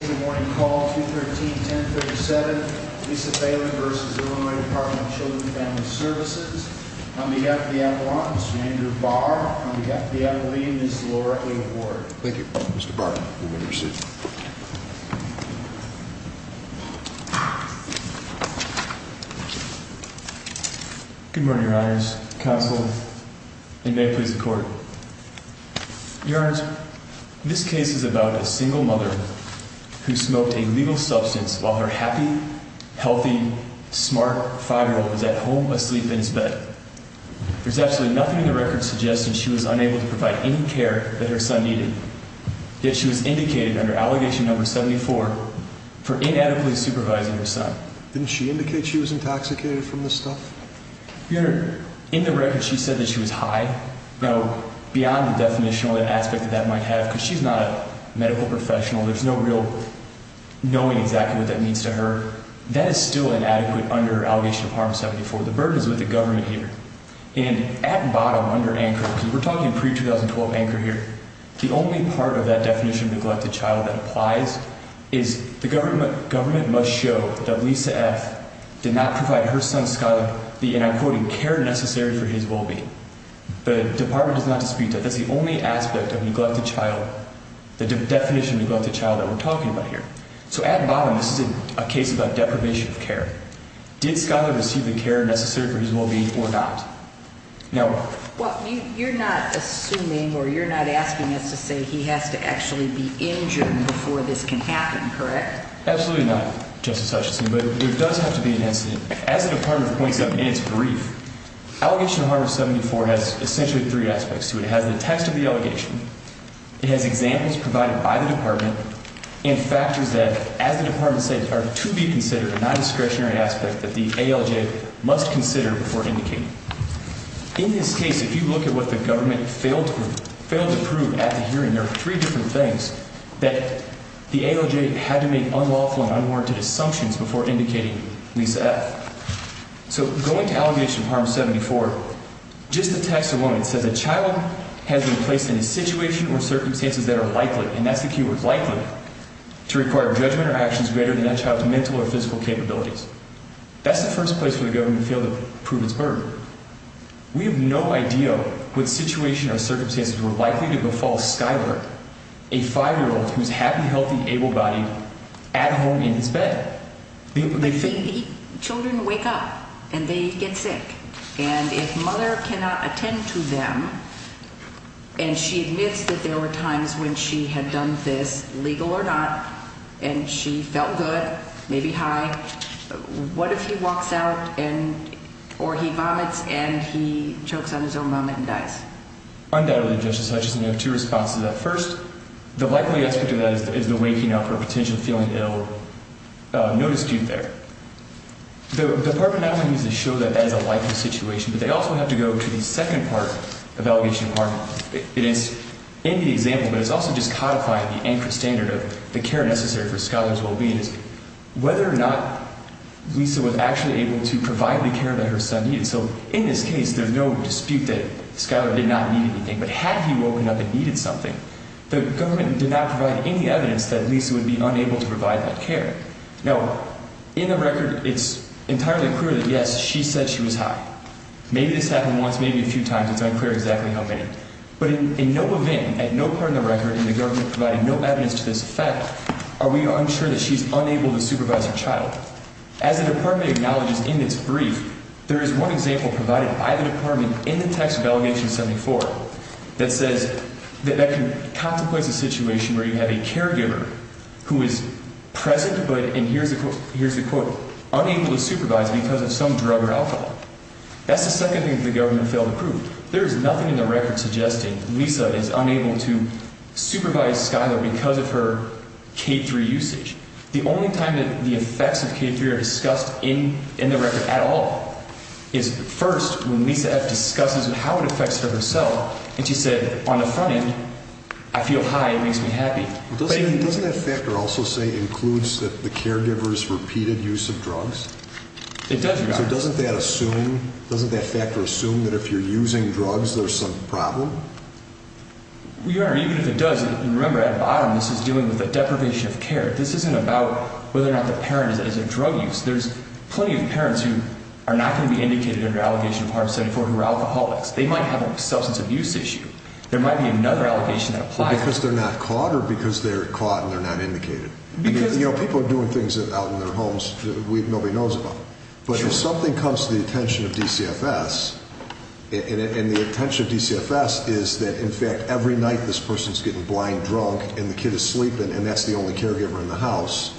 Good morning, call 213-1037, Lisa Falen v. Illinois Department of Children and Family Services. On behalf of the Admirals, Mr. Andrew Barr. On behalf of the Admirals, Ms. Laura A. Ward. Thank you, Mr. Barr. You may be seated. Good morning, Your Honors. Counsel, and may it please the Court. Your Honors, this case is about a single mother who smoked a legal substance while her happy, healthy, smart 5-year-old was at home asleep in his bed. There's absolutely nothing in the record suggesting she was unable to provide any care that her son needed. Yet she was indicated under Allegation No. 74 for inadequately supervising her son. Didn't she indicate she was intoxicated from the stuff? Your Honor, in the record she said that she was high. Now, beyond the definitional aspect that that might have, because she's not a medical professional, there's no real knowing exactly what that means to her. That is still inadequate under Allegation of Harm 74. The burden is with the government here. And at bottom, under anchor, because we're talking pre-2012 anchor here, the only part of that definition of neglected child that applies is the government must show that Lisa F. did not provide her son Skyler the, and I'm quoting, care necessary for his well-being. The Department does not dispute that. That's the only aspect of neglected child, the definition of neglected child that we're talking about here. So at bottom, this is a case about deprivation of care. Did Skyler receive the care necessary for his well-being or not? No. Well, you're not assuming or you're not asking us to say he has to actually be injured before this can happen, correct? Absolutely not, Justice Hutchinson. But there does have to be an incident. As the Department points out in its brief, Allegation of Harm 74 has essentially three aspects to it. It has the text of the allegation. It has examples provided by the Department and factors that, as the Department said, are to be considered a non-discretionary aspect that the ALJ must consider before indicating. In this case, if you look at what the government failed to prove at the hearing, there are three different things that the ALJ had to make unlawful and unwarranted assumptions before indicating Lisa F. So going to Allegation of Harm 74, just the text alone, it says a child has been placed in a situation or circumstances that are likely, and that's the key word, likely, to require judgment or actions greater than that child's mental or physical capabilities. That's the first place where the government failed to prove its burden. We have no idea what situation or circumstances were likely to befall Skyler, a five-year-old who's happy, healthy, able-bodied, at home in his bed. But children wake up and they get sick. And if mother cannot attend to them and she admits that there were times when she had done this, legal or not, and she felt good, maybe high, what if he walks out or he vomits and he chokes on his own vomit and dies? Undoubtedly, Justice Hutchison. You have two responses to that. First, the likely aspect of that is the waking up or potential feeling ill, no dispute there. The Department not only needs to show that that is a likely situation, but they also have to go to the second part of Allegation of Harm. It is in the example, but it's also just codifying the anchor standard of the care necessary for Skyler's well-being, is whether or not Lisa was actually able to provide the care that her son needed. So in this case, there's no dispute that Skyler did not need anything. But had he woken up and needed something, the government did not provide any evidence that Lisa would be unable to provide that care. Now, in the record, it's entirely clear that, yes, she said she was high. Maybe this happened once, maybe a few times. It's unclear exactly how many. But in no event, at no part in the record, in the government providing no evidence to this effect, are we unsure that she's unable to supervise her child. As the Department acknowledges in its brief, there is one example provided by the Department in the text of Allegation 74 that says that that can contemplate a situation where you have a caregiver who is present but, and here's the quote, unable to supervise because of some drug or alcohol. That's the second thing that the government failed to prove. There is nothing in the record suggesting Lisa is unable to supervise Skyler because of her K3 usage. The only time that the effects of K3 are discussed in the record at all is first when Lisa F. discusses how it affects her herself. And she said, on the front end, I feel high. It makes me happy. Doesn't that factor also say includes the caregiver's repeated use of drugs? It does, Your Honor. So doesn't that factor assume that if you're using drugs, there's some problem? Your Honor, even if it does, remember at the bottom, this is dealing with a deprivation of care. This isn't about whether or not the parent is at a drug use. There's plenty of parents who are not going to be indicated under Allegation of Harm 74 who are alcoholics. They might have a substance abuse issue. There might be another allegation that applies. Because they're not caught or because they're caught and they're not indicated? Because, you know, people are doing things out in their homes that nobody knows about. But if something comes to the attention of DCFS, and the attention of DCFS is that, in fact, every night this person is getting blind drunk and the kid is sleeping and that's the only caregiver in the house,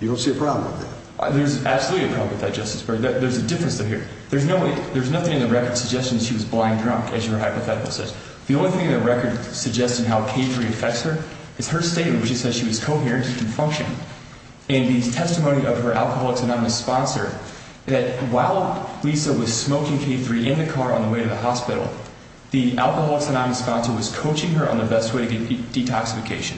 you don't see a problem with that. There's absolutely a problem with that, Justice Breyer. There's a difference there. There's nothing in the record suggesting she was blind drunk, as your hypothetical says. The only thing in the record suggesting how K-3 affects her is her statement, which says she was coherent and functioned. In the testimony of her Alcoholics Anonymous sponsor, that while Lisa was smoking K-3 in the car on the way to the hospital, the Alcoholics Anonymous sponsor was coaching her on the best way to get detoxification.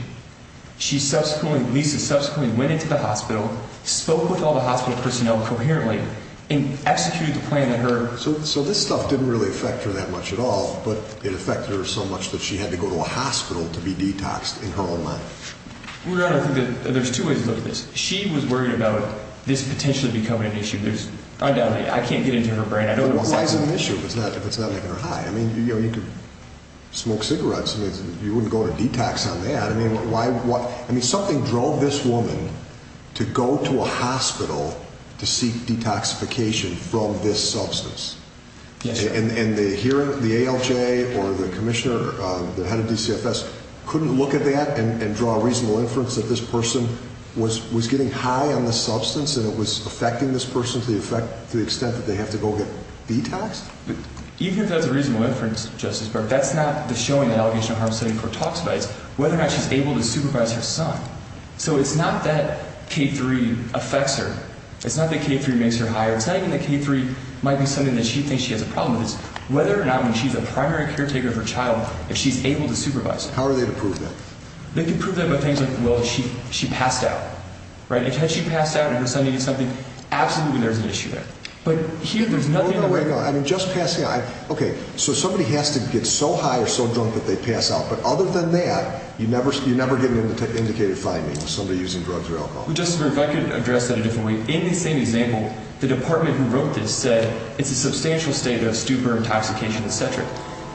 Lisa subsequently went into the hospital, spoke with all the hospital personnel coherently, and executed the plan that her... So this stuff didn't really affect her that much at all, but it affected her so much that she had to go to a hospital to be detoxed in her own mind. Your Honor, I think that there's two ways to look at this. She was worried about this potentially becoming an issue. I can't get into her brain. Why is it an issue if it's not making her high? I mean, you could smoke cigarettes. You wouldn't go to detox on that. I mean, something drove this woman to go to a hospital to seek detoxification from this substance. And the ALJ or the commissioner, the head of DCFS, couldn't look at that and draw a reasonable inference that this person was getting high on the substance and it was affecting this person to the extent that they have to go get detoxed? Even if that's a reasonable inference, Justice Burke, that's not the showing that ALJ for toxivides, whether or not she's able to supervise her son. So it's not that K-3 affects her. It's not that K-3 makes her higher. It's not even that K-3 might be something that she thinks she has a problem with. It's whether or not when she's a primary caretaker of her child, if she's able to supervise her. How are they to prove that? They can prove that by things like, well, she passed out. Right? Had she passed out and her son needed something, absolutely there's an issue there. But here there's nothing... I mean, just passing out. Okay, so somebody has to get so high or so drunk that they pass out. But other than that, you never get an indicated finding of somebody using drugs or alcohol. Well, Justice Burke, I could address that a different way. In the same example, the department who wrote this said it's a substantial state of stupor, intoxication, etc.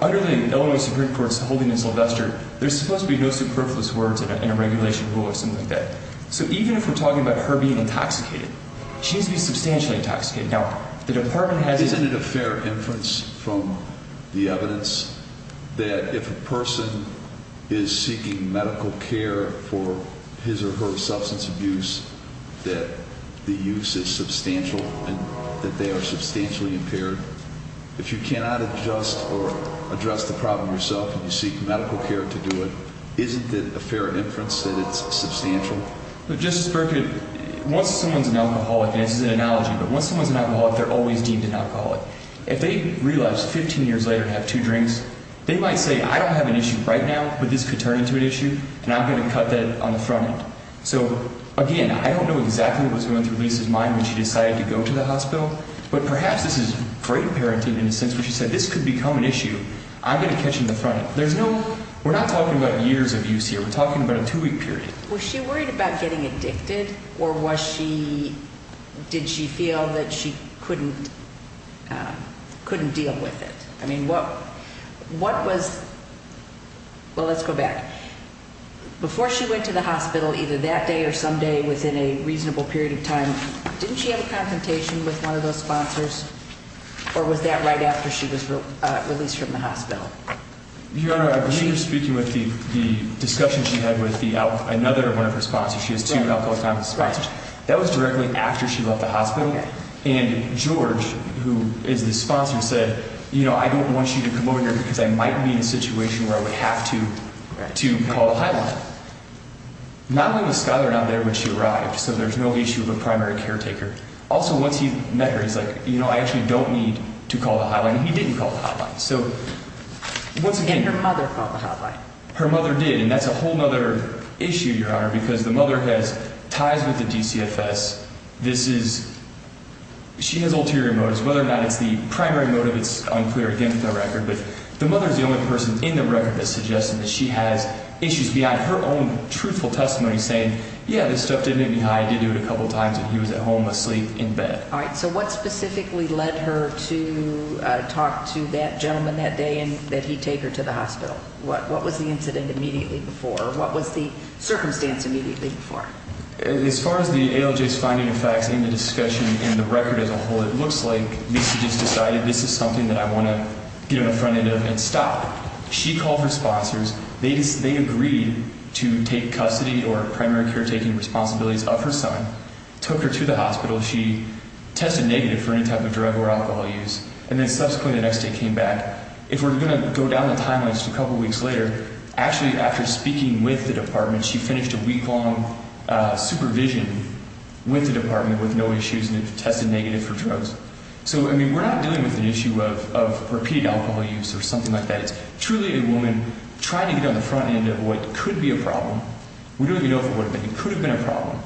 Under the Illinois Supreme Court's holding in Sylvester, there's supposed to be no superfluous words in a regulation rule or something like that. So even if we're talking about her being intoxicated, she needs to be substantially intoxicated. Isn't it a fair inference from the evidence that if a person is seeking medical care for his or her substance abuse, that the use is substantial and that they are substantially impaired? If you cannot adjust or address the problem yourself and you seek medical care to do it, isn't it a fair inference that it's substantial? Justice Burke, once someone's an alcoholic, and this is an analogy, but once someone's an alcoholic, they're always deemed an alcoholic. If they realized 15 years later to have two drinks, they might say, I don't have an issue right now, but this could turn into an issue, and I'm going to cut that on the front end. So, again, I don't know exactly what's going through Lisa's mind when she decided to go to the hospital, but perhaps this is great parenting in a sense where she said, this could become an issue, I'm going to catch it on the front end. We're not talking about years of use here. We're talking about a two-week period. Was she worried about getting addicted, or did she feel that she couldn't deal with it? I mean, what was – well, let's go back. Before she went to the hospital, either that day or some day within a reasonable period of time, didn't she have a confrontation with one of those sponsors, or was that right after she was released from the hospital? Your Honor, I believe you're speaking with the discussion she had with another one of her sponsors. She has two alcoholic nonconsensual sponsors. That was directly after she left the hospital. And George, who is the sponsor, said, you know, I don't want you to come over here because I might be in a situation where I would have to call the hotline. Not only was Skyler not there when she arrived, so there's no issue of a primary caretaker. Also, once he met her, he's like, you know, I actually don't need to call the hotline. He didn't call the hotline. So, once again – And her mother called the hotline. Her mother did, and that's a whole other issue, Your Honor, because the mother has ties with the DCFS. This is – she has ulterior motives. Whether or not it's the primary motive, it's unclear, again, with the record. But the mother is the only person in the record that's suggesting that she has issues behind her own truthful testimony saying, yeah, this stuff did make me high. I did do it a couple times when he was at home asleep in bed. All right, so what specifically led her to talk to that gentleman that day that he'd take her to the hospital? What was the incident immediately before? What was the circumstance immediately before? As far as the ALJ's finding of facts in the discussion and the record as a whole, it looks like Lisa just decided this is something that I want to get in front of and stop. She called her sponsors. They agreed to take custody or primary caretaking responsibilities of her son, took her to the hospital. She tested negative for any type of drug or alcohol use, and then subsequently the next day came back. If we're going to go down the timeline just a couple weeks later, actually after speaking with the department, she finished a week-long supervision with the department with no issues and tested negative for drugs. So, I mean, we're not dealing with an issue of repeated alcohol use or something like that. It's truly a woman trying to get on the front end of what could be a problem. We don't even know if it would have been. It could have been a problem.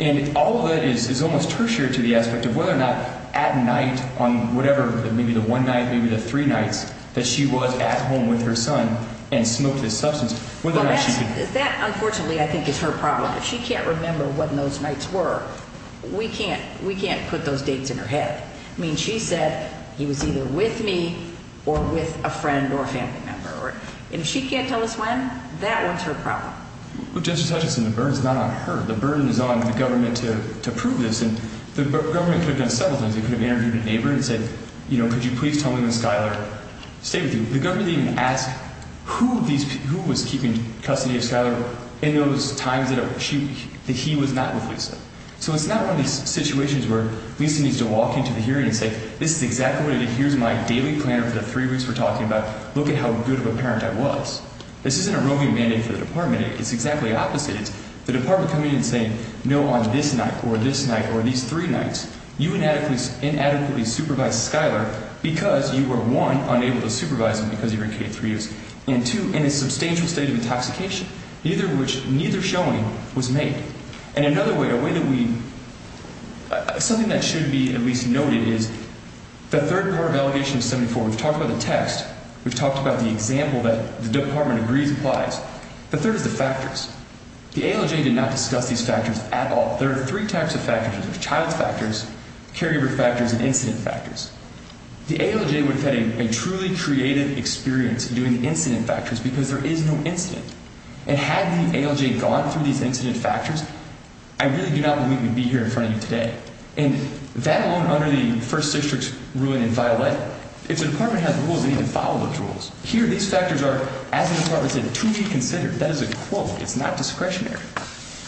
And all of that is almost tertiary to the aspect of whether or not at night on whatever, maybe the one night, maybe the three nights that she was at home with her son and smoked this substance, whether or not she could. That, unfortunately, I think is her problem. If she can't remember what those nights were, we can't put those dates in her head. I mean, she said he was either with me or with a friend or a family member. And if she can't tell us when, that one's her problem. Justice Hutchinson, the burden is not on her. The burden is on the government to prove this. And the government could have done several things. It could have interviewed a neighbor and said, you know, could you please tell me when Skyler stayed with you. The government didn't even ask who was keeping custody of Skyler in those times that he was not with Lisa. So it's not one of these situations where Lisa needs to walk into the hearing and say, this is exactly what it is. Here's my daily planner for the three weeks we're talking about. Look at how good of a parent I was. This isn't a roving mandate for the department. It's exactly opposite. It's the department coming in and saying, no, on this night or this night or these three nights, you inadequately supervised Skyler because you were, one, unable to supervise him because you were in K-3 use, and, two, in a substantial state of intoxication, neither showing was made. And another way, a way that we – something that should be at least noted is the third part of Allegation 74. We've talked about the text. We've talked about the example that the department agrees applies. The third is the factors. The ALJ did not discuss these factors at all. There are three types of factors. There's child factors, carryover factors, and incident factors. The ALJ would have had a truly creative experience doing incident factors because there is no incident. And had the ALJ gone through these incident factors, I really do not believe we'd be here in front of you today. And that alone under the First District's ruling in Violet, if the department has rules, they need to follow those rules. Here, these factors are, as the department said, to be considered. That is a quote. It's not discretionary.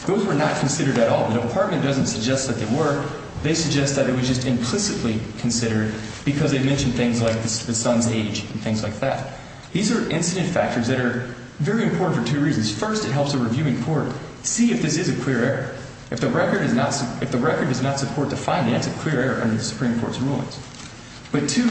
Those were not considered at all. The department doesn't suggest that they were. They suggest that it was just implicitly considered because they mentioned things like the son's age and things like that. These are incident factors that are very important for two reasons. First, it helps the reviewing court see if this is a clear error. If the record does not support the finding, that's a clear error under the Supreme Court's rulings. But, two,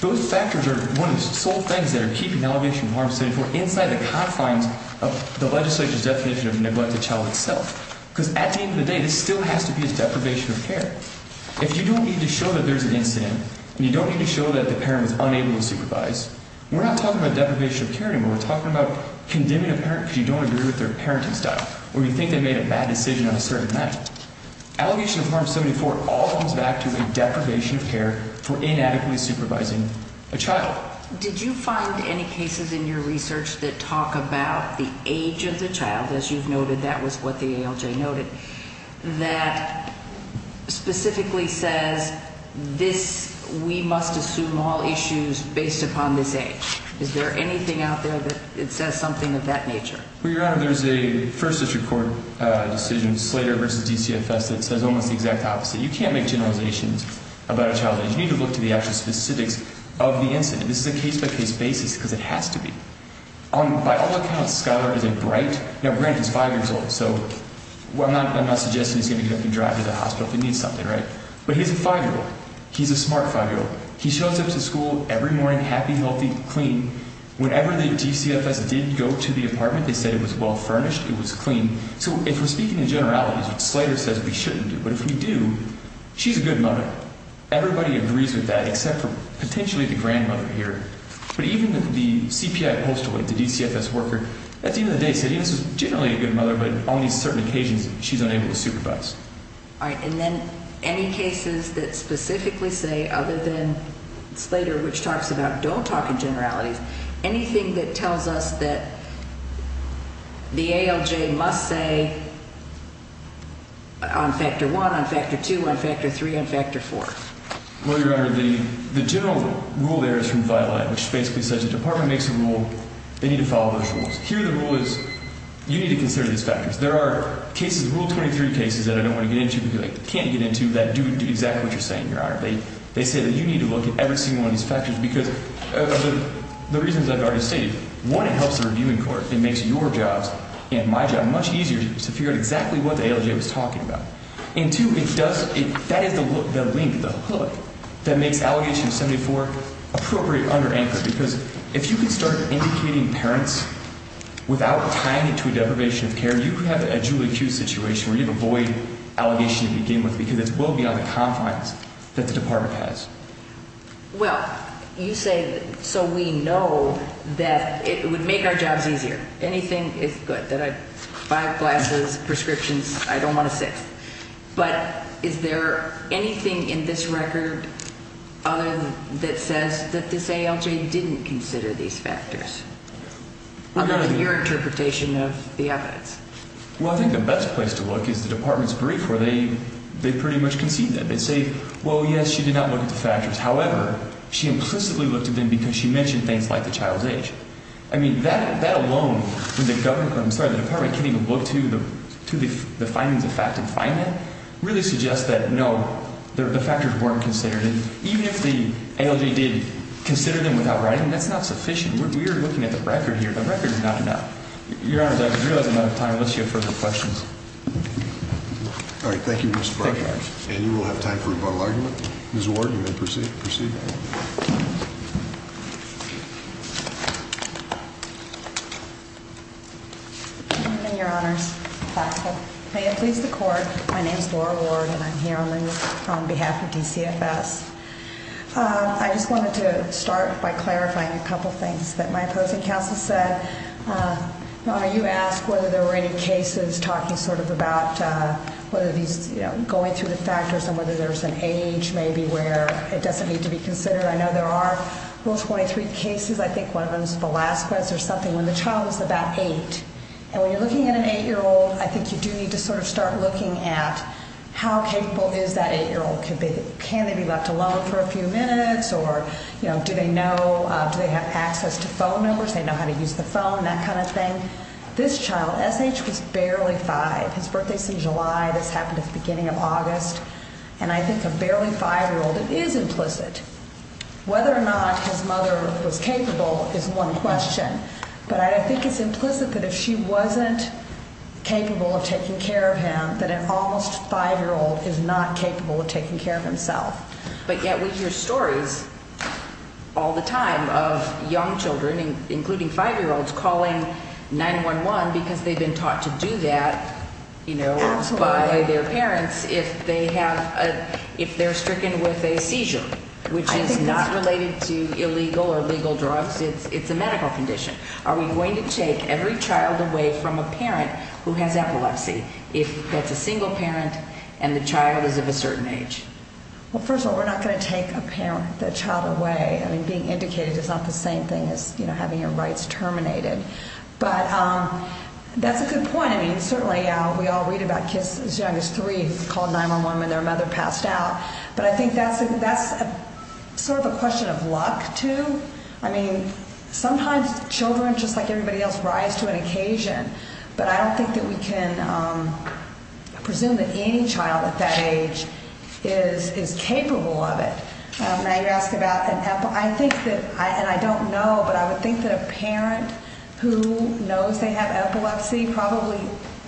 those factors are one of the sole things that are keeping Allegation of Harm 74 inside the confines of the legislature's definition of a neglected child itself. Because at the end of the day, this still has to be a deprivation of care. If you don't need to show that there's an incident and you don't need to show that the parent was unable to supervise, we're not talking about deprivation of care anymore. We're talking about condemning a parent because you don't agree with their parenting style or you think they made a bad decision on a certain matter. Allegation of Harm 74 all comes back to a deprivation of care for inadequately supervising a child. Did you find any cases in your research that talk about the age of the child, as you've noted, that was what the ALJ noted, that specifically says, we must assume all issues based upon this age. Is there anything out there that says something of that nature? Well, Your Honor, there's a first district court decision, Slater v. DCFS, that says almost the exact opposite. You can't make generalizations about a child's age. You need to look to the actual specifics of the incident. This is a case-by-case basis because it has to be. By all accounts, Skyler is a bright—now, granted, he's five years old, so I'm not suggesting he's going to get up and drive to the hospital if he needs something, right? But he's a five-year-old. He's a smart five-year-old. He shows up to school every morning, happy, healthy, clean. Whenever the DCFS did go to the apartment, they said it was well-furnished, it was clean. So if we're speaking in generalities, Slater says we shouldn't do it. But if we do, she's a good mother. Everybody agrees with that except for potentially the grandmother here. But even the CPI postulate, the DCFS worker, at the end of the day said, yes, she's generally a good mother, but on these certain occasions, she's unable to supervise. All right. And then any cases that specifically say, other than Slater, which talks about don't talk in generalities, anything that tells us that the ALJ must say on Factor 1, on Factor 2, on Factor 3, on Factor 4? Well, Your Honor, the general rule there is from Violet, which basically says the department makes a rule, they need to follow those rules. Here the rule is you need to consider these factors. There are cases, Rule 23 cases, that I don't want to get into because I can't get into that do exactly what you're saying, Your Honor. They say that you need to look at every single one of these factors because of the reasons I've already stated. One, it helps the reviewing court. It makes your jobs and my job much easier to figure out exactly what the ALJ was talking about. And two, that is the link, the hook, that makes Allegation 74 appropriate under ANCA. Because if you can start indicating parents without tying it to a deprivation of care, you can have a Julie Q situation where you can avoid allegation to begin with because it's well beyond the confines that the department has. Well, you say so we know that it would make our jobs easier. Anything is good. Five glasses, prescriptions, I don't want to sit. But is there anything in this record other than that says that this ALJ didn't consider these factors? I'll go with your interpretation of the evidence. Well, I think the best place to look is the department's brief where they pretty much concede that. They say, well, yes, she did not look at the factors. However, she implicitly looked at them because she mentioned things like the child's age. I mean, that alone in the government, I'm sorry, the department can't even look to the to the findings of fact and find that really suggests that, no, the factors weren't considered. And even if the ALJ did consider them without writing, that's not sufficient. We're looking at the record here. The record is not enough. Your Honor, I realize I'm out of time unless you have further questions. All right. Thank you, Mr. Your Honor, please. The court. My name is Laura Ward and I'm here on behalf of DCFS. I just wanted to start by clarifying a couple of things that my opposing counsel said. You ask whether there were any cases talking sort of about whether these going through the factors and whether there's an age maybe where it doesn't need to be considered. I know there are. There were 23 cases. I think one of them is the last case or something when the child was about 8. And when you're looking at an 8-year-old, I think you do need to sort of start looking at how capable is that 8-year-old. Can they be left alone for a few minutes or, you know, do they know, do they have access to phone numbers? They know how to use the phone, that kind of thing. This child, SH, was barely 5. His birthday's in July. This happened at the beginning of August. And I think a barely 5-year-old, it is implicit. Whether or not his mother was capable is one question. But I think it's implicit that if she wasn't capable of taking care of him, that an almost 5-year-old is not capable of taking care of himself. But yet we hear stories all the time of young children, including 5-year-olds, calling 911 because they've been taught to do that by their parents if they're stricken with a seizure, which is not related to illegal or legal drugs. It's a medical condition. Are we going to take every child away from a parent who has epilepsy if that's a single parent and the child is of a certain age? Well, first of all, we're not going to take a parent, a child, away. I mean, being indicated is not the same thing as, you know, having your rights terminated. But that's a good point. I mean, certainly we all read about kids as young as 3 calling 911 when their mother passed out. But I think that's sort of a question of luck, too. I mean, sometimes children, just like everybody else, rise to an occasion. But I don't think that we can presume that any child at that age is capable of it. Now you're asking about an epilepsy. I think that, and I don't know, but I would think that a parent who knows they have epilepsy probably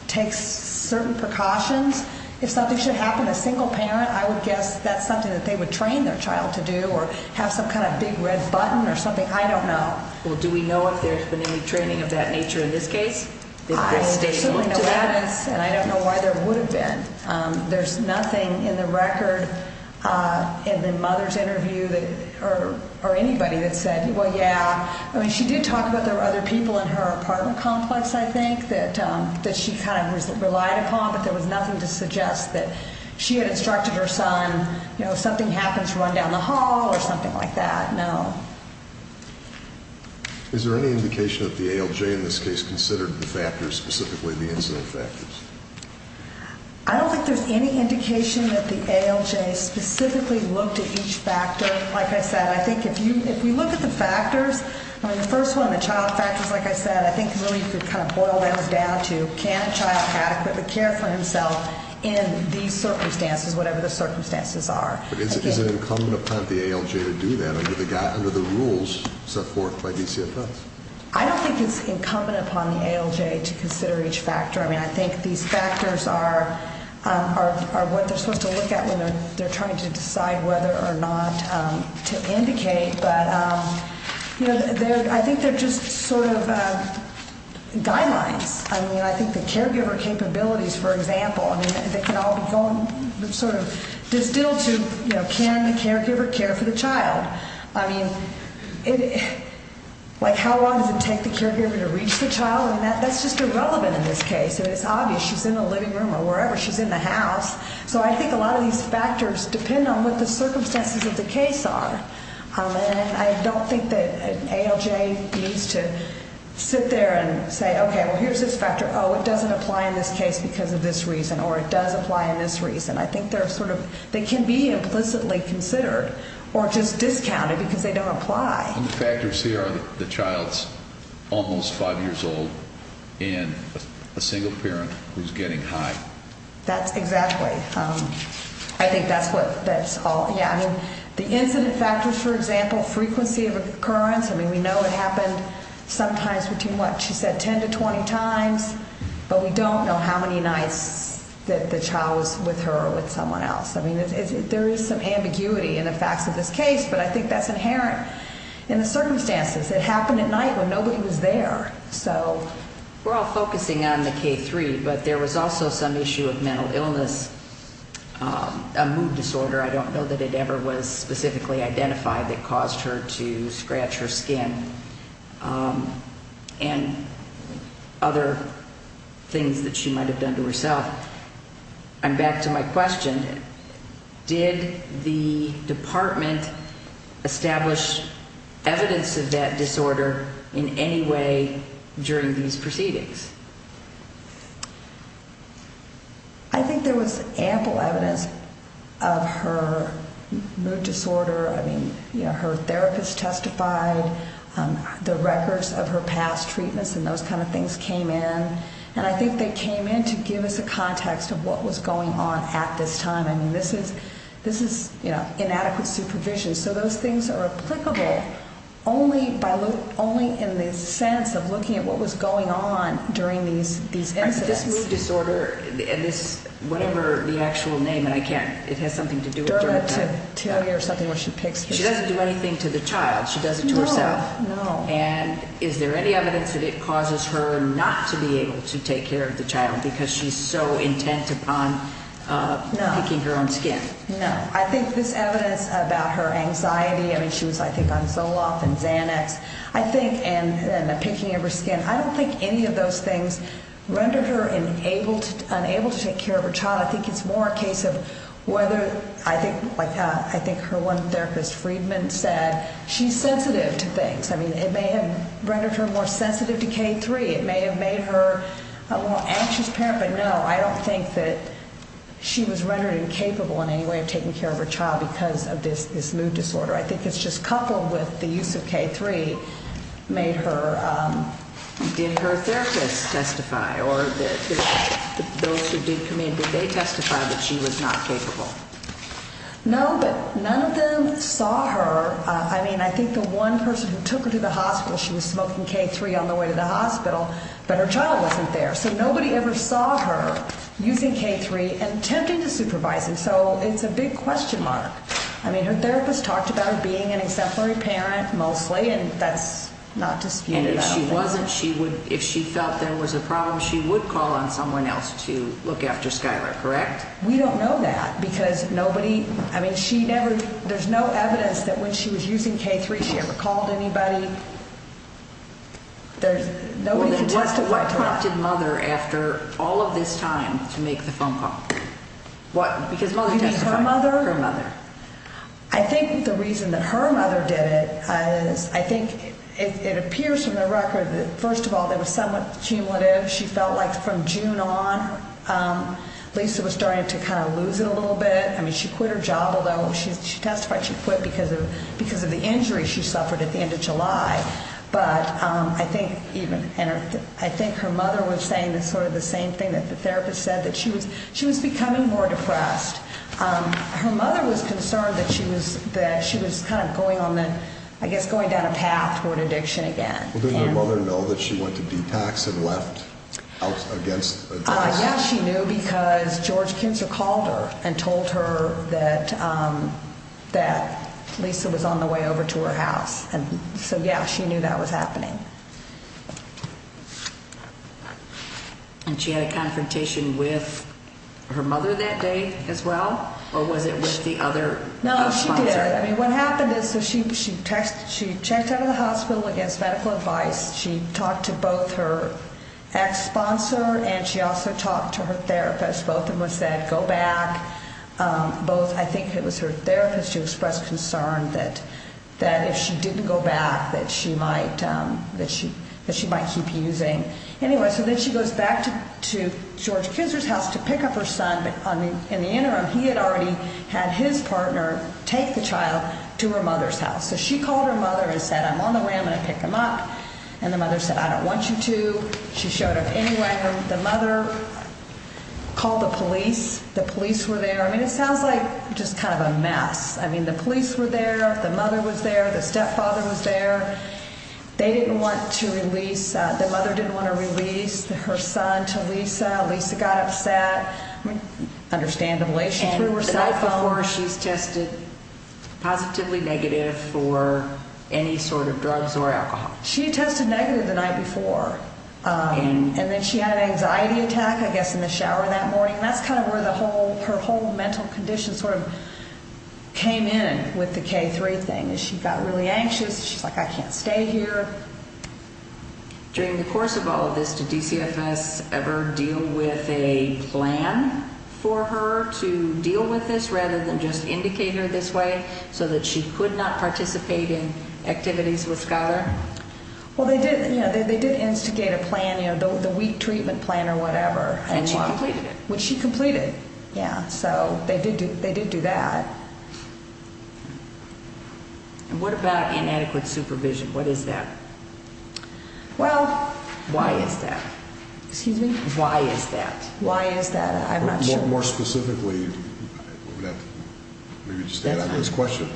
takes certain precautions. If something should happen to a single parent, I would guess that's something that they would train their child to do or have some kind of big red button or something. I don't know. Well, do we know if there's been any training of that nature in this case? I don't know why there would have been. There's nothing in the record in the mother's interview or anybody that said, well, yeah. I mean, she did talk about there were other people in her apartment complex, I think, that she kind of relied upon. But there was nothing to suggest that she had instructed her son, you know, if something happens, run down the hall or something like that. No. Is there any indication that the ALJ in this case considered the factors, specifically the incident factors? I don't think there's any indication that the ALJ specifically looked at each factor. Like I said, I think if you look at the factors, I mean, the first one, the child factors, like I said, I think really could kind of boil them down to, can a child adequately care for himself in these circumstances, whatever the circumstances are? But is it incumbent upon the ALJ to do that under the rules set forth by DCFS? I don't think it's incumbent upon the ALJ to consider each factor. I mean, I think these factors are what they're supposed to look at when they're trying to decide whether or not to indicate. But, you know, I think they're just sort of guidelines. I mean, I think the caregiver capabilities, for example, I mean, they can all be sort of distilled to, you know, can the caregiver care for the child? I mean, like how long does it take the caregiver to reach the child? I mean, that's just irrelevant in this case. I mean, it's obvious she's in the living room or wherever, she's in the house. So I think a lot of these factors depend on what the circumstances of the case are. And I don't think that an ALJ needs to sit there and say, okay, well, here's this factor. Oh, it doesn't apply in this case because of this reason or it does apply in this reason. I think they're sort of, they can be implicitly considered or just discounted because they don't apply. And the factors here are the child's almost five years old and a single parent who's getting high. That's exactly. I think that's what, that's all. Yeah, I mean, the incident factors, for example, frequency of occurrence. I mean, we know it happened sometimes between what she said, 10 to 20 times, but we don't know how many nights that the child was with her or with someone else. I mean, there is some ambiguity in the facts of this case, but I think that's inherent in the circumstances. It happened at night when nobody was there. So we're all focusing on the K3, but there was also some issue of mental illness, a mood disorder. I don't know that it ever was specifically identified that caused her to scratch her skin and other things that she might have done to herself. And back to my question, did the department establish evidence of that disorder in any way during these proceedings? I think there was ample evidence of her mood disorder. I mean, her therapist testified. The records of her past treatments and those kind of things came in. And I think they came in to give us a context of what was going on at this time. I mean, this is, you know, inadequate supervision. So those things are applicable only in the sense of looking at what was going on during these incidents. This mood disorder and this, whatever the actual name, and I can't, it has something to do with it. Dermatitis or something where she picks her skin. She doesn't do anything to the child. She does it to herself. No. And is there any evidence that it causes her not to be able to take care of the child because she's so intent upon picking her own skin? No. No. I think this evidence about her anxiety, I mean, she was, I think, on Zoloft and Xanax, I think, and the picking of her skin. I don't think any of those things rendered her unable to take care of her child. I think it's more a case of whether, I think, like I think her one therapist, Friedman, said she's sensitive to things. I mean, it may have rendered her more sensitive to K3. It may have made her a more anxious parent. But, no, I don't think that she was rendered incapable in any way of taking care of her child because of this mood disorder. I think it's just coupled with the use of K3 made her. Did her therapist testify or those who did come in, did they testify that she was not capable? No, but none of them saw her. I mean, I think the one person who took her to the hospital, she was smoking K3 on the way to the hospital, but her child wasn't there. So nobody ever saw her using K3 and attempting to supervise him. So it's a big question mark. I mean, her therapist talked about her being an exemplary parent, mostly, and that's not disputed. And if she wasn't, she would, if she felt there was a problem, she would call on someone else to look after Skylar, correct? We don't know that because nobody, I mean, she never, there's no evidence that when she was using K3 she ever called anybody. There's nobody who testified to that. What prompted Mother after all of this time to make the phone call? What? Because Mother testified. You mean her mother? Her mother. I think the reason that her mother did it is, I think it appears from the record that, first of all, it was somewhat cumulative. She felt like from June on Lisa was starting to kind of lose it a little bit. I mean, she quit her job, although she testified she quit because of the injury she suffered at the end of July. But I think even, and I think her mother was saying sort of the same thing that the therapist said, that she was becoming more depressed. Her mother was concerned that she was kind of going on the, I guess going down a path toward addiction again. Well, didn't her mother know that she went to detox and left out against addiction? Yeah, she knew because George Kinzer called her and told her that Lisa was on the way over to her house. And so, yeah, she knew that was happening. And she had a confrontation with her mother that day as well? Or was it with the other sponsor? No, she didn't. I mean, what happened is she checked out of the hospital against medical advice. She talked to both her ex-sponsor and she also talked to her therapist. Both of them said go back. Both, I think it was her therapist who expressed concern that if she didn't go back that she might keep using. Anyway, so then she goes back to George Kinzer's house to pick up her son. But in the interim, he had already had his partner take the child to her mother's house. So she called her mother and said, I'm on the way. I'm going to pick him up. And the mother said, I don't want you to. She showed up anyway. The mother called the police. The police were there. I mean, it sounds like just kind of a mess. I mean, the police were there. The mother was there. The stepfather was there. They didn't want to release, the mother didn't want to release her son to Lisa. Lisa got upset. Understandably, she threw her cell phone. So far, she's tested positively negative for any sort of drugs or alcohol. She tested negative the night before. And then she had an anxiety attack, I guess, in the shower that morning. That's kind of where her whole mental condition sort of came in with the K3 thing. She got really anxious. She's like, I can't stay here. During the course of all of this, did DCFS ever deal with a plan for her to deal with this rather than just indicate her this way so that she could not participate in activities with Schuyler? Well, they did instigate a plan, the weak treatment plan or whatever. And she completed it. Which she completed. Yeah, so they did do that. And what about inadequate supervision? What is that? Well, why is that? Excuse me? Why is that? Why is that? I'm not sure. More specifically, maybe just to add on to this question,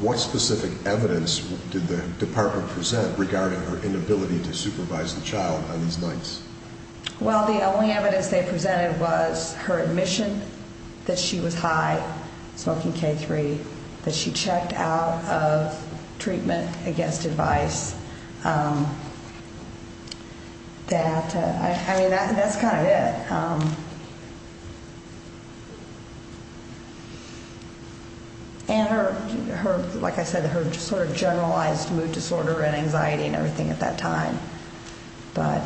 what specific evidence did the department present regarding her inability to supervise the child on these nights? Well, the only evidence they presented was her admission that she was high, smoking K3, that she checked out of treatment against advice. I mean, that's kind of it. And her, like I said, her sort of generalized mood disorder and anxiety and everything at that time. But...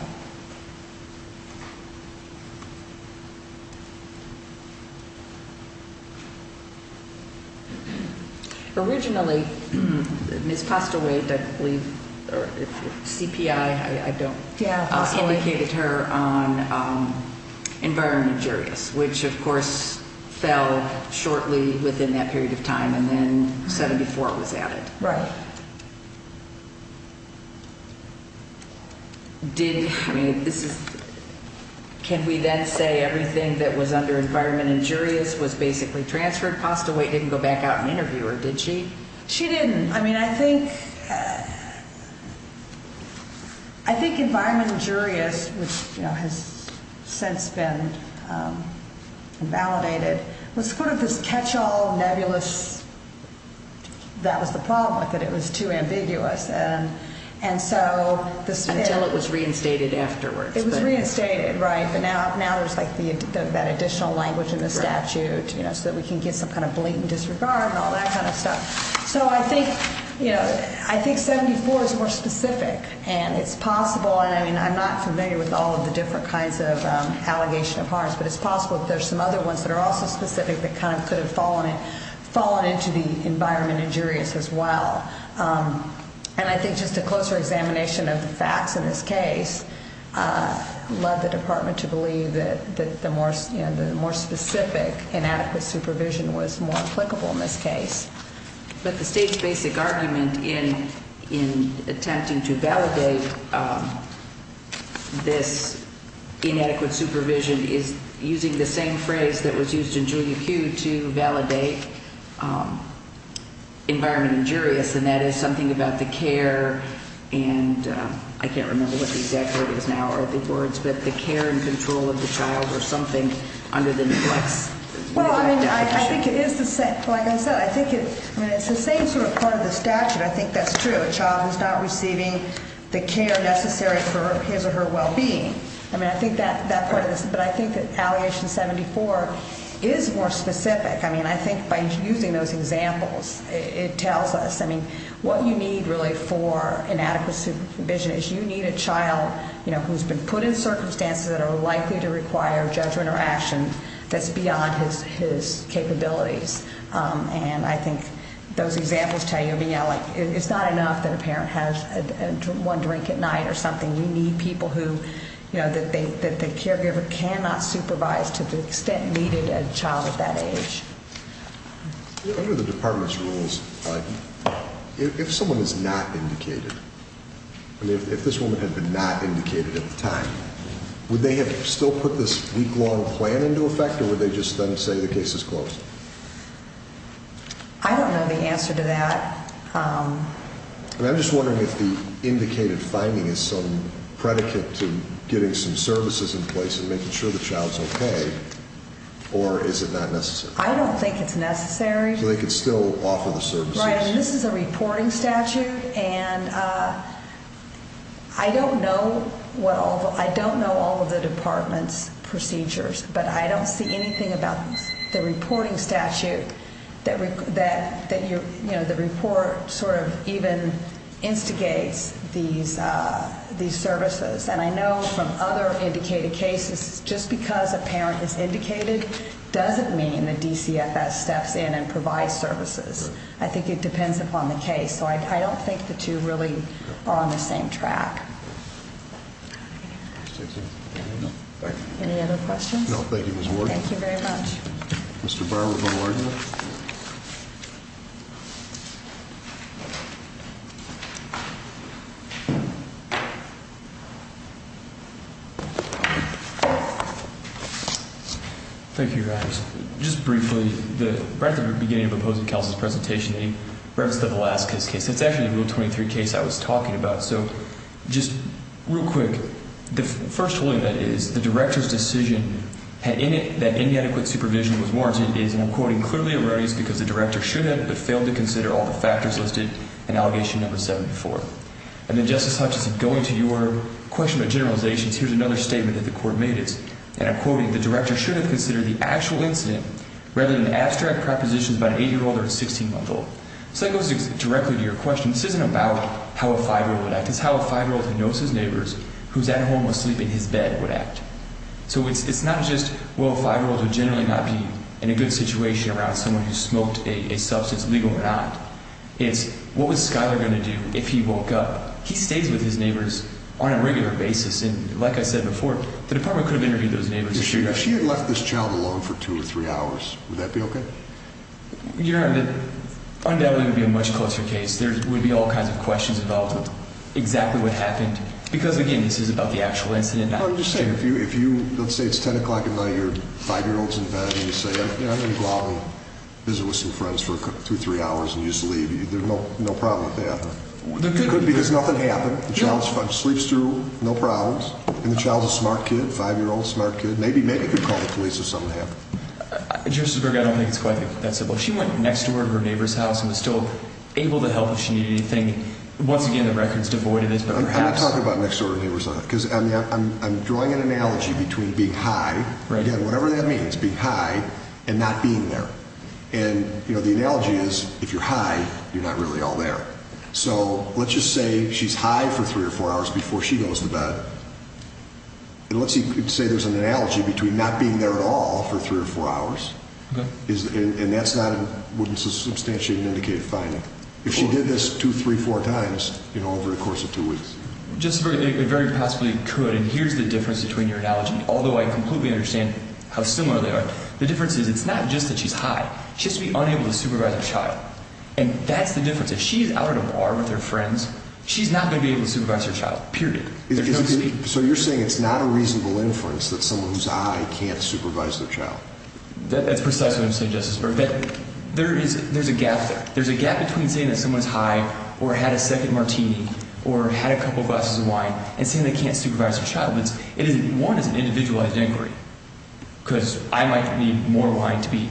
Originally, Ms. Costa-Waite, I believe, or CPI, I don't. Yeah. Indicated her on environmental juries, which, of course, fell shortly within that period of time, and then 74 was added. Right. Did, I mean, this is, can we then say everything that was under environment injurious was basically transferred? Costa-Waite didn't go back out and interview her, did she? She didn't. I mean, I think environment injurious, which has since been validated, was sort of this catch-all, nebulous, that was the problem with it, it was too ambiguous. And so... Until it was reinstated afterwards. It was reinstated, right, but now there's like that additional language in the statute, you know, so that we can get some kind of blatant disregard and all that kind of stuff. So I think, you know, I think 74 is more specific, and it's possible, and I mean, I'm not familiar with all of the different kinds of allegation of harms, but it's possible that there's some other ones that are also specific that kind of could have fallen into the environment injurious as well. And I think just a closer examination of the facts in this case led the department to believe that the more specific inadequate supervision was more applicable in this case. But the state's basic argument in attempting to validate this inadequate supervision is using the same phrase that was used in Julia Q to validate environment injurious, and that is something about the care, and I can't remember what the exact word is now, but the care and control of the child or something under the neglect statute. Well, I mean, I think it is the same. Like I said, I think it's the same sort of part of the statute. I think that's true. A child who's not receiving the care necessary for his or her well-being. I mean, I think that part of this, but I think that allegation 74 is more specific. I mean, I think by using those examples, it tells us, I mean, what you need really for inadequate supervision is you need a child, you know, who's been put in circumstances that are likely to require judgment or action that's beyond his capabilities. And I think those examples tell you, I mean, it's not enough that a parent has one drink at night or something. You need people who, you know, that the caregiver cannot supervise to the extent needed a child at that age. Under the department's rules, if someone is not indicated, I mean, if this woman had been not indicated at the time, would they have still put this week-long plan into effect or would they just then say the case is closed? I don't know the answer to that. I'm just wondering if the indicated finding is some predicate to getting some services in place and making sure the child's okay, or is it not necessary? I don't think it's necessary. So they could still offer the services? Right, and this is a reporting statute, and I don't know all of the department's procedures, but I don't see anything about the reporting statute that, you know, the report sort of even instigates these services. And I know from other indicated cases, just because a parent is indicated doesn't mean the DCFS steps in and provides services. I think it depends upon the case. So I don't think the two really are on the same track. Any other questions? No, thank you, Ms. Warden. Thank you very much. Mr. Barber, the warden. Thank you, Your Honors. Just briefly, right at the beginning of opposing counsel's presentation, he referenced the Velazquez case. That's actually the Rule 23 case I was talking about. So just real quick, the first ruling that is the director's decision had in it that inadequate supervision was warranted is, and I'm quoting, clearly erroneous because the director should have but failed to consider all the factors listed in Allegation No. 74. And then, Justice Hutchinson, going to your question about generalizations, here's another statement that the court made. It's, and I'm quoting, the director should have considered the actual incident rather than abstract propositions by an 8-year-old or a 16-month-old. So that goes directly to your question. This isn't about how a 5-year-old would act. It's how a 5-year-old who knows his neighbors, who's at home asleep in his bed, would act. So it's not just, well, a 5-year-old would generally not be in a good situation around someone who smoked a substance, legal or not. It's, what was Schuyler going to do if he woke up? He stays with his neighbors on a regular basis. And like I said before, the department could have interviewed those neighbors. If she had left this child alone for two or three hours, would that be okay? Your Honor, that undoubtedly would be a much closer case. There would be all kinds of questions about exactly what happened. Because, again, this is about the actual incident. I'm just saying, if you, let's say it's 10 o'clock at night and your 5-year-old's in bed and you say, I'm going to go out and visit with some friends for two or three hours and just leave. There's no problem with that. It could be because nothing happened. The child sleeps through, no problems. And the child's a smart kid, 5-year-old, smart kid. Maybe you could call the police if something happened. Justice Berger, I don't think it's quite that simple. She went next door to her neighbor's house and was still able to help if she needed anything. Once again, the record's devoid of this. I'm not talking about next door to her neighbor's house. Because I'm drawing an analogy between being high, again, whatever that means, being high and not being there. And, you know, the analogy is if you're high, you're not really all there. So let's just say she's high for three or four hours before she goes to bed. And let's say there's an analogy between not being there at all for three or four hours. And that's not a substantially indicative finding. If she did this two, three, four times, you know, over the course of two weeks. Justice Berger, it very possibly could. And here's the difference between your analogy, although I completely understand how similar they are. The difference is it's not just that she's high. She has to be unable to supervise her child. And that's the difference. If she's out at a bar with her friends, she's not going to be able to supervise her child, period. So you're saying it's not a reasonable inference that someone who's high can't supervise their child? That's precisely what I'm saying, Justice Berger. There is a gap there. There's a gap between saying that someone's high or had a second martini or had a couple glasses of wine and saying they can't supervise their child. One, it's an individualized inquiry because I might need more wine to be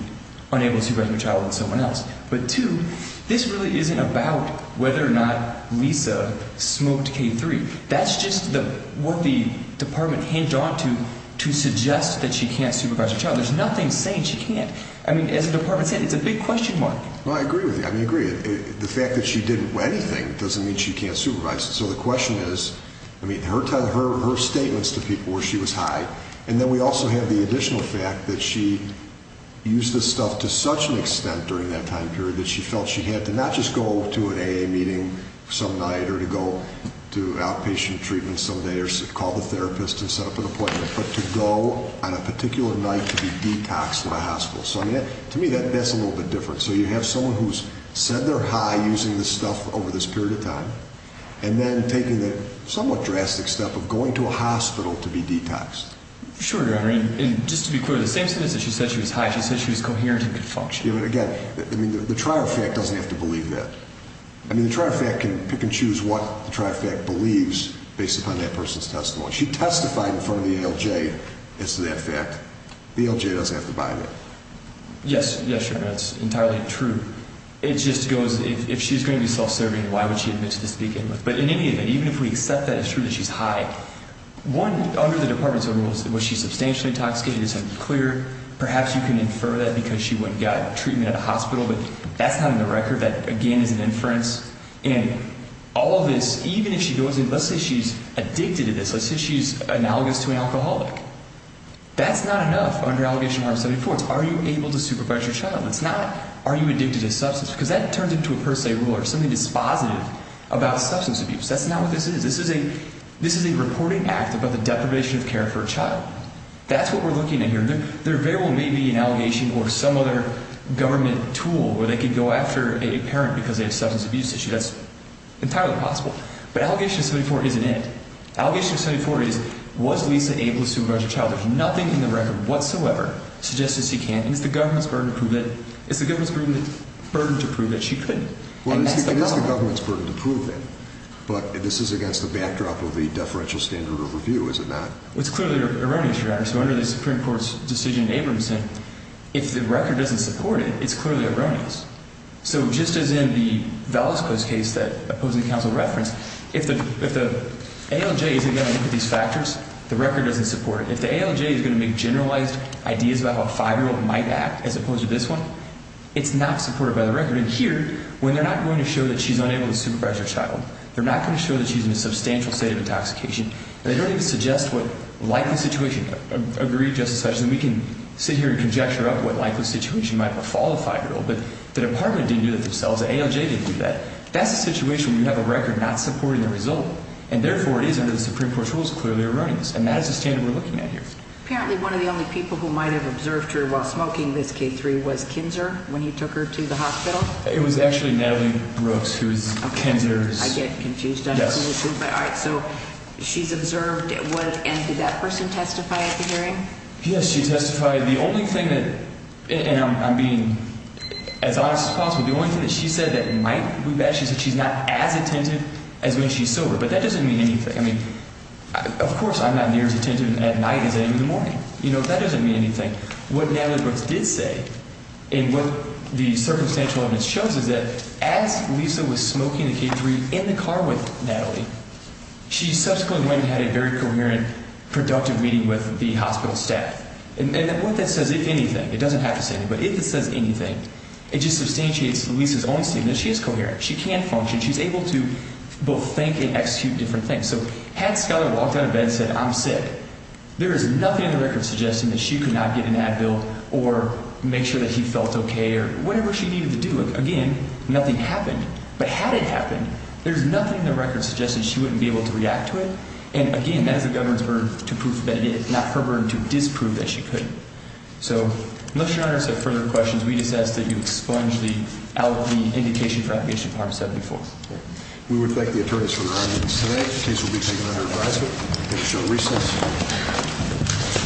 unable to supervise my child than someone else. But, two, this really isn't about whether or not Lisa smoked K3. That's just what the department hinged onto to suggest that she can't supervise her child. There's nothing saying she can't. I mean, as the department said, it's a big question mark. Well, I agree with you. I mean, I agree. The fact that she didn't do anything doesn't mean she can't supervise. So the question is, I mean, her statements to people where she was high, and then we also have the additional fact that she used this stuff to such an extent during that time period that she felt she had to not just go to an AA meeting some night or to go to outpatient treatment some day or call the therapist and set up an appointment, but to go on a particular night to be detoxed at a hospital. So, I mean, to me that's a little bit different. So you have someone who's said they're high using this stuff over this period of time and then taking the somewhat drastic step of going to a hospital to be detoxed. Sure, Your Honor. And just to be clear, the same sentence that she said she was high, she said she was coherent and could function. Yeah, but again, I mean, the trial fact doesn't have to believe that. I mean, the trial fact can pick and choose what the trial fact believes based upon that person's testimony. She testified in front of the ALJ as to that fact. The ALJ doesn't have to buy that. Yes, Your Honor, that's entirely true. It just goes, if she's going to be self-serving, why would she admit to this to begin with? But in any event, even if we accept that it's true that she's high, one, under the department's own rules, was she substantially intoxicated? It's unclear. Perhaps you can infer that because she went and got treatment at a hospital, but that's not in the record. That, again, is an inference. And all of this, even if she goes in, let's say she's addicted to this. Let's say she's analogous to an alcoholic. That's not enough under Allegation of Harm 74. It's are you able to supervise your child? It's not are you addicted to a substance? Because that turns into a per se rule or something dispositive about substance abuse. That's not what this is. This is a reporting act about the deprivation of care for a child. That's what we're looking at here. Their variable may be an allegation or some other government tool where they could go after a parent because they have a substance abuse issue. That's entirely possible. But Allegation of 74 isn't it. Allegation of 74 is, was Lisa able to supervise her child? There's nothing in the record whatsoever suggesting she can't. And it's the government's burden to prove that she couldn't. And that's the problem. It is the government's burden to prove that. But this is against the backdrop of the deferential standard of review, is it not? It's clearly erroneous, Your Honor. So under the Supreme Court's decision in Abramson, if the record doesn't support it, it's clearly erroneous. So just as in the Velasco's case that opposing counsel referenced, if the ALJ isn't going to look at these factors, the record doesn't support it. If the ALJ is going to make generalized ideas about how a 5-year-old might act as opposed to this one, it's not supported by the record. And here, when they're not going to show that she's unable to supervise her child, they're not going to show that she's in a substantial state of intoxication. And they don't even suggest what likely situation. I agree, Justice Hutchinson. We can sit here and conjecture up what likely situation might befall a 5-year-old. But the department didn't do that themselves. The ALJ didn't do that. That's a situation where you have a record not supporting the result, and therefore it is under the Supreme Court's rules clearly erroneous. And that is the standard we're looking at here. Apparently one of the only people who might have observed her while smoking this K3 was Kinzer when he took her to the hospital? It was actually Natalie Brooks, who is Kinzer's… I get confused. Yes. All right. So she's observed at what end? Did that person testify at the hearing? Yes, she testified. The only thing that—and I'm being as honest as possible—the only thing that she said that might be bad, she said she's not as attentive as when she's sober. But that doesn't mean anything. I mean, of course I'm not near as attentive at night as I am in the morning. You know, that doesn't mean anything. What Natalie Brooks did say and what the circumstantial evidence shows is that as Lisa was smoking the K3 in the car with Natalie, she subsequently went and had a very coherent, productive meeting with the hospital staff. And what that says, if anything—it doesn't have to say anything—but if it says anything, it just substantiates Lisa's own statement. She is coherent. She can function. She's able to both think and execute different things. So had Schuyler walked out of bed and said, I'm sick, there is nothing in the record suggesting that she could not get an ad bill or make sure that he felt okay or whatever she needed to do. Look, again, nothing happened. But had it happened, there's nothing in the record suggesting she wouldn't be able to react to it. And again, that is the governor's burden to prove that it is not her burden to disprove that she couldn't. So unless your Honor has any further questions, we just ask that you expunge out the indication for application of Part 74. We would thank the attorneys for their audience today. The case will be taken under advisement. Thank you for showing recess.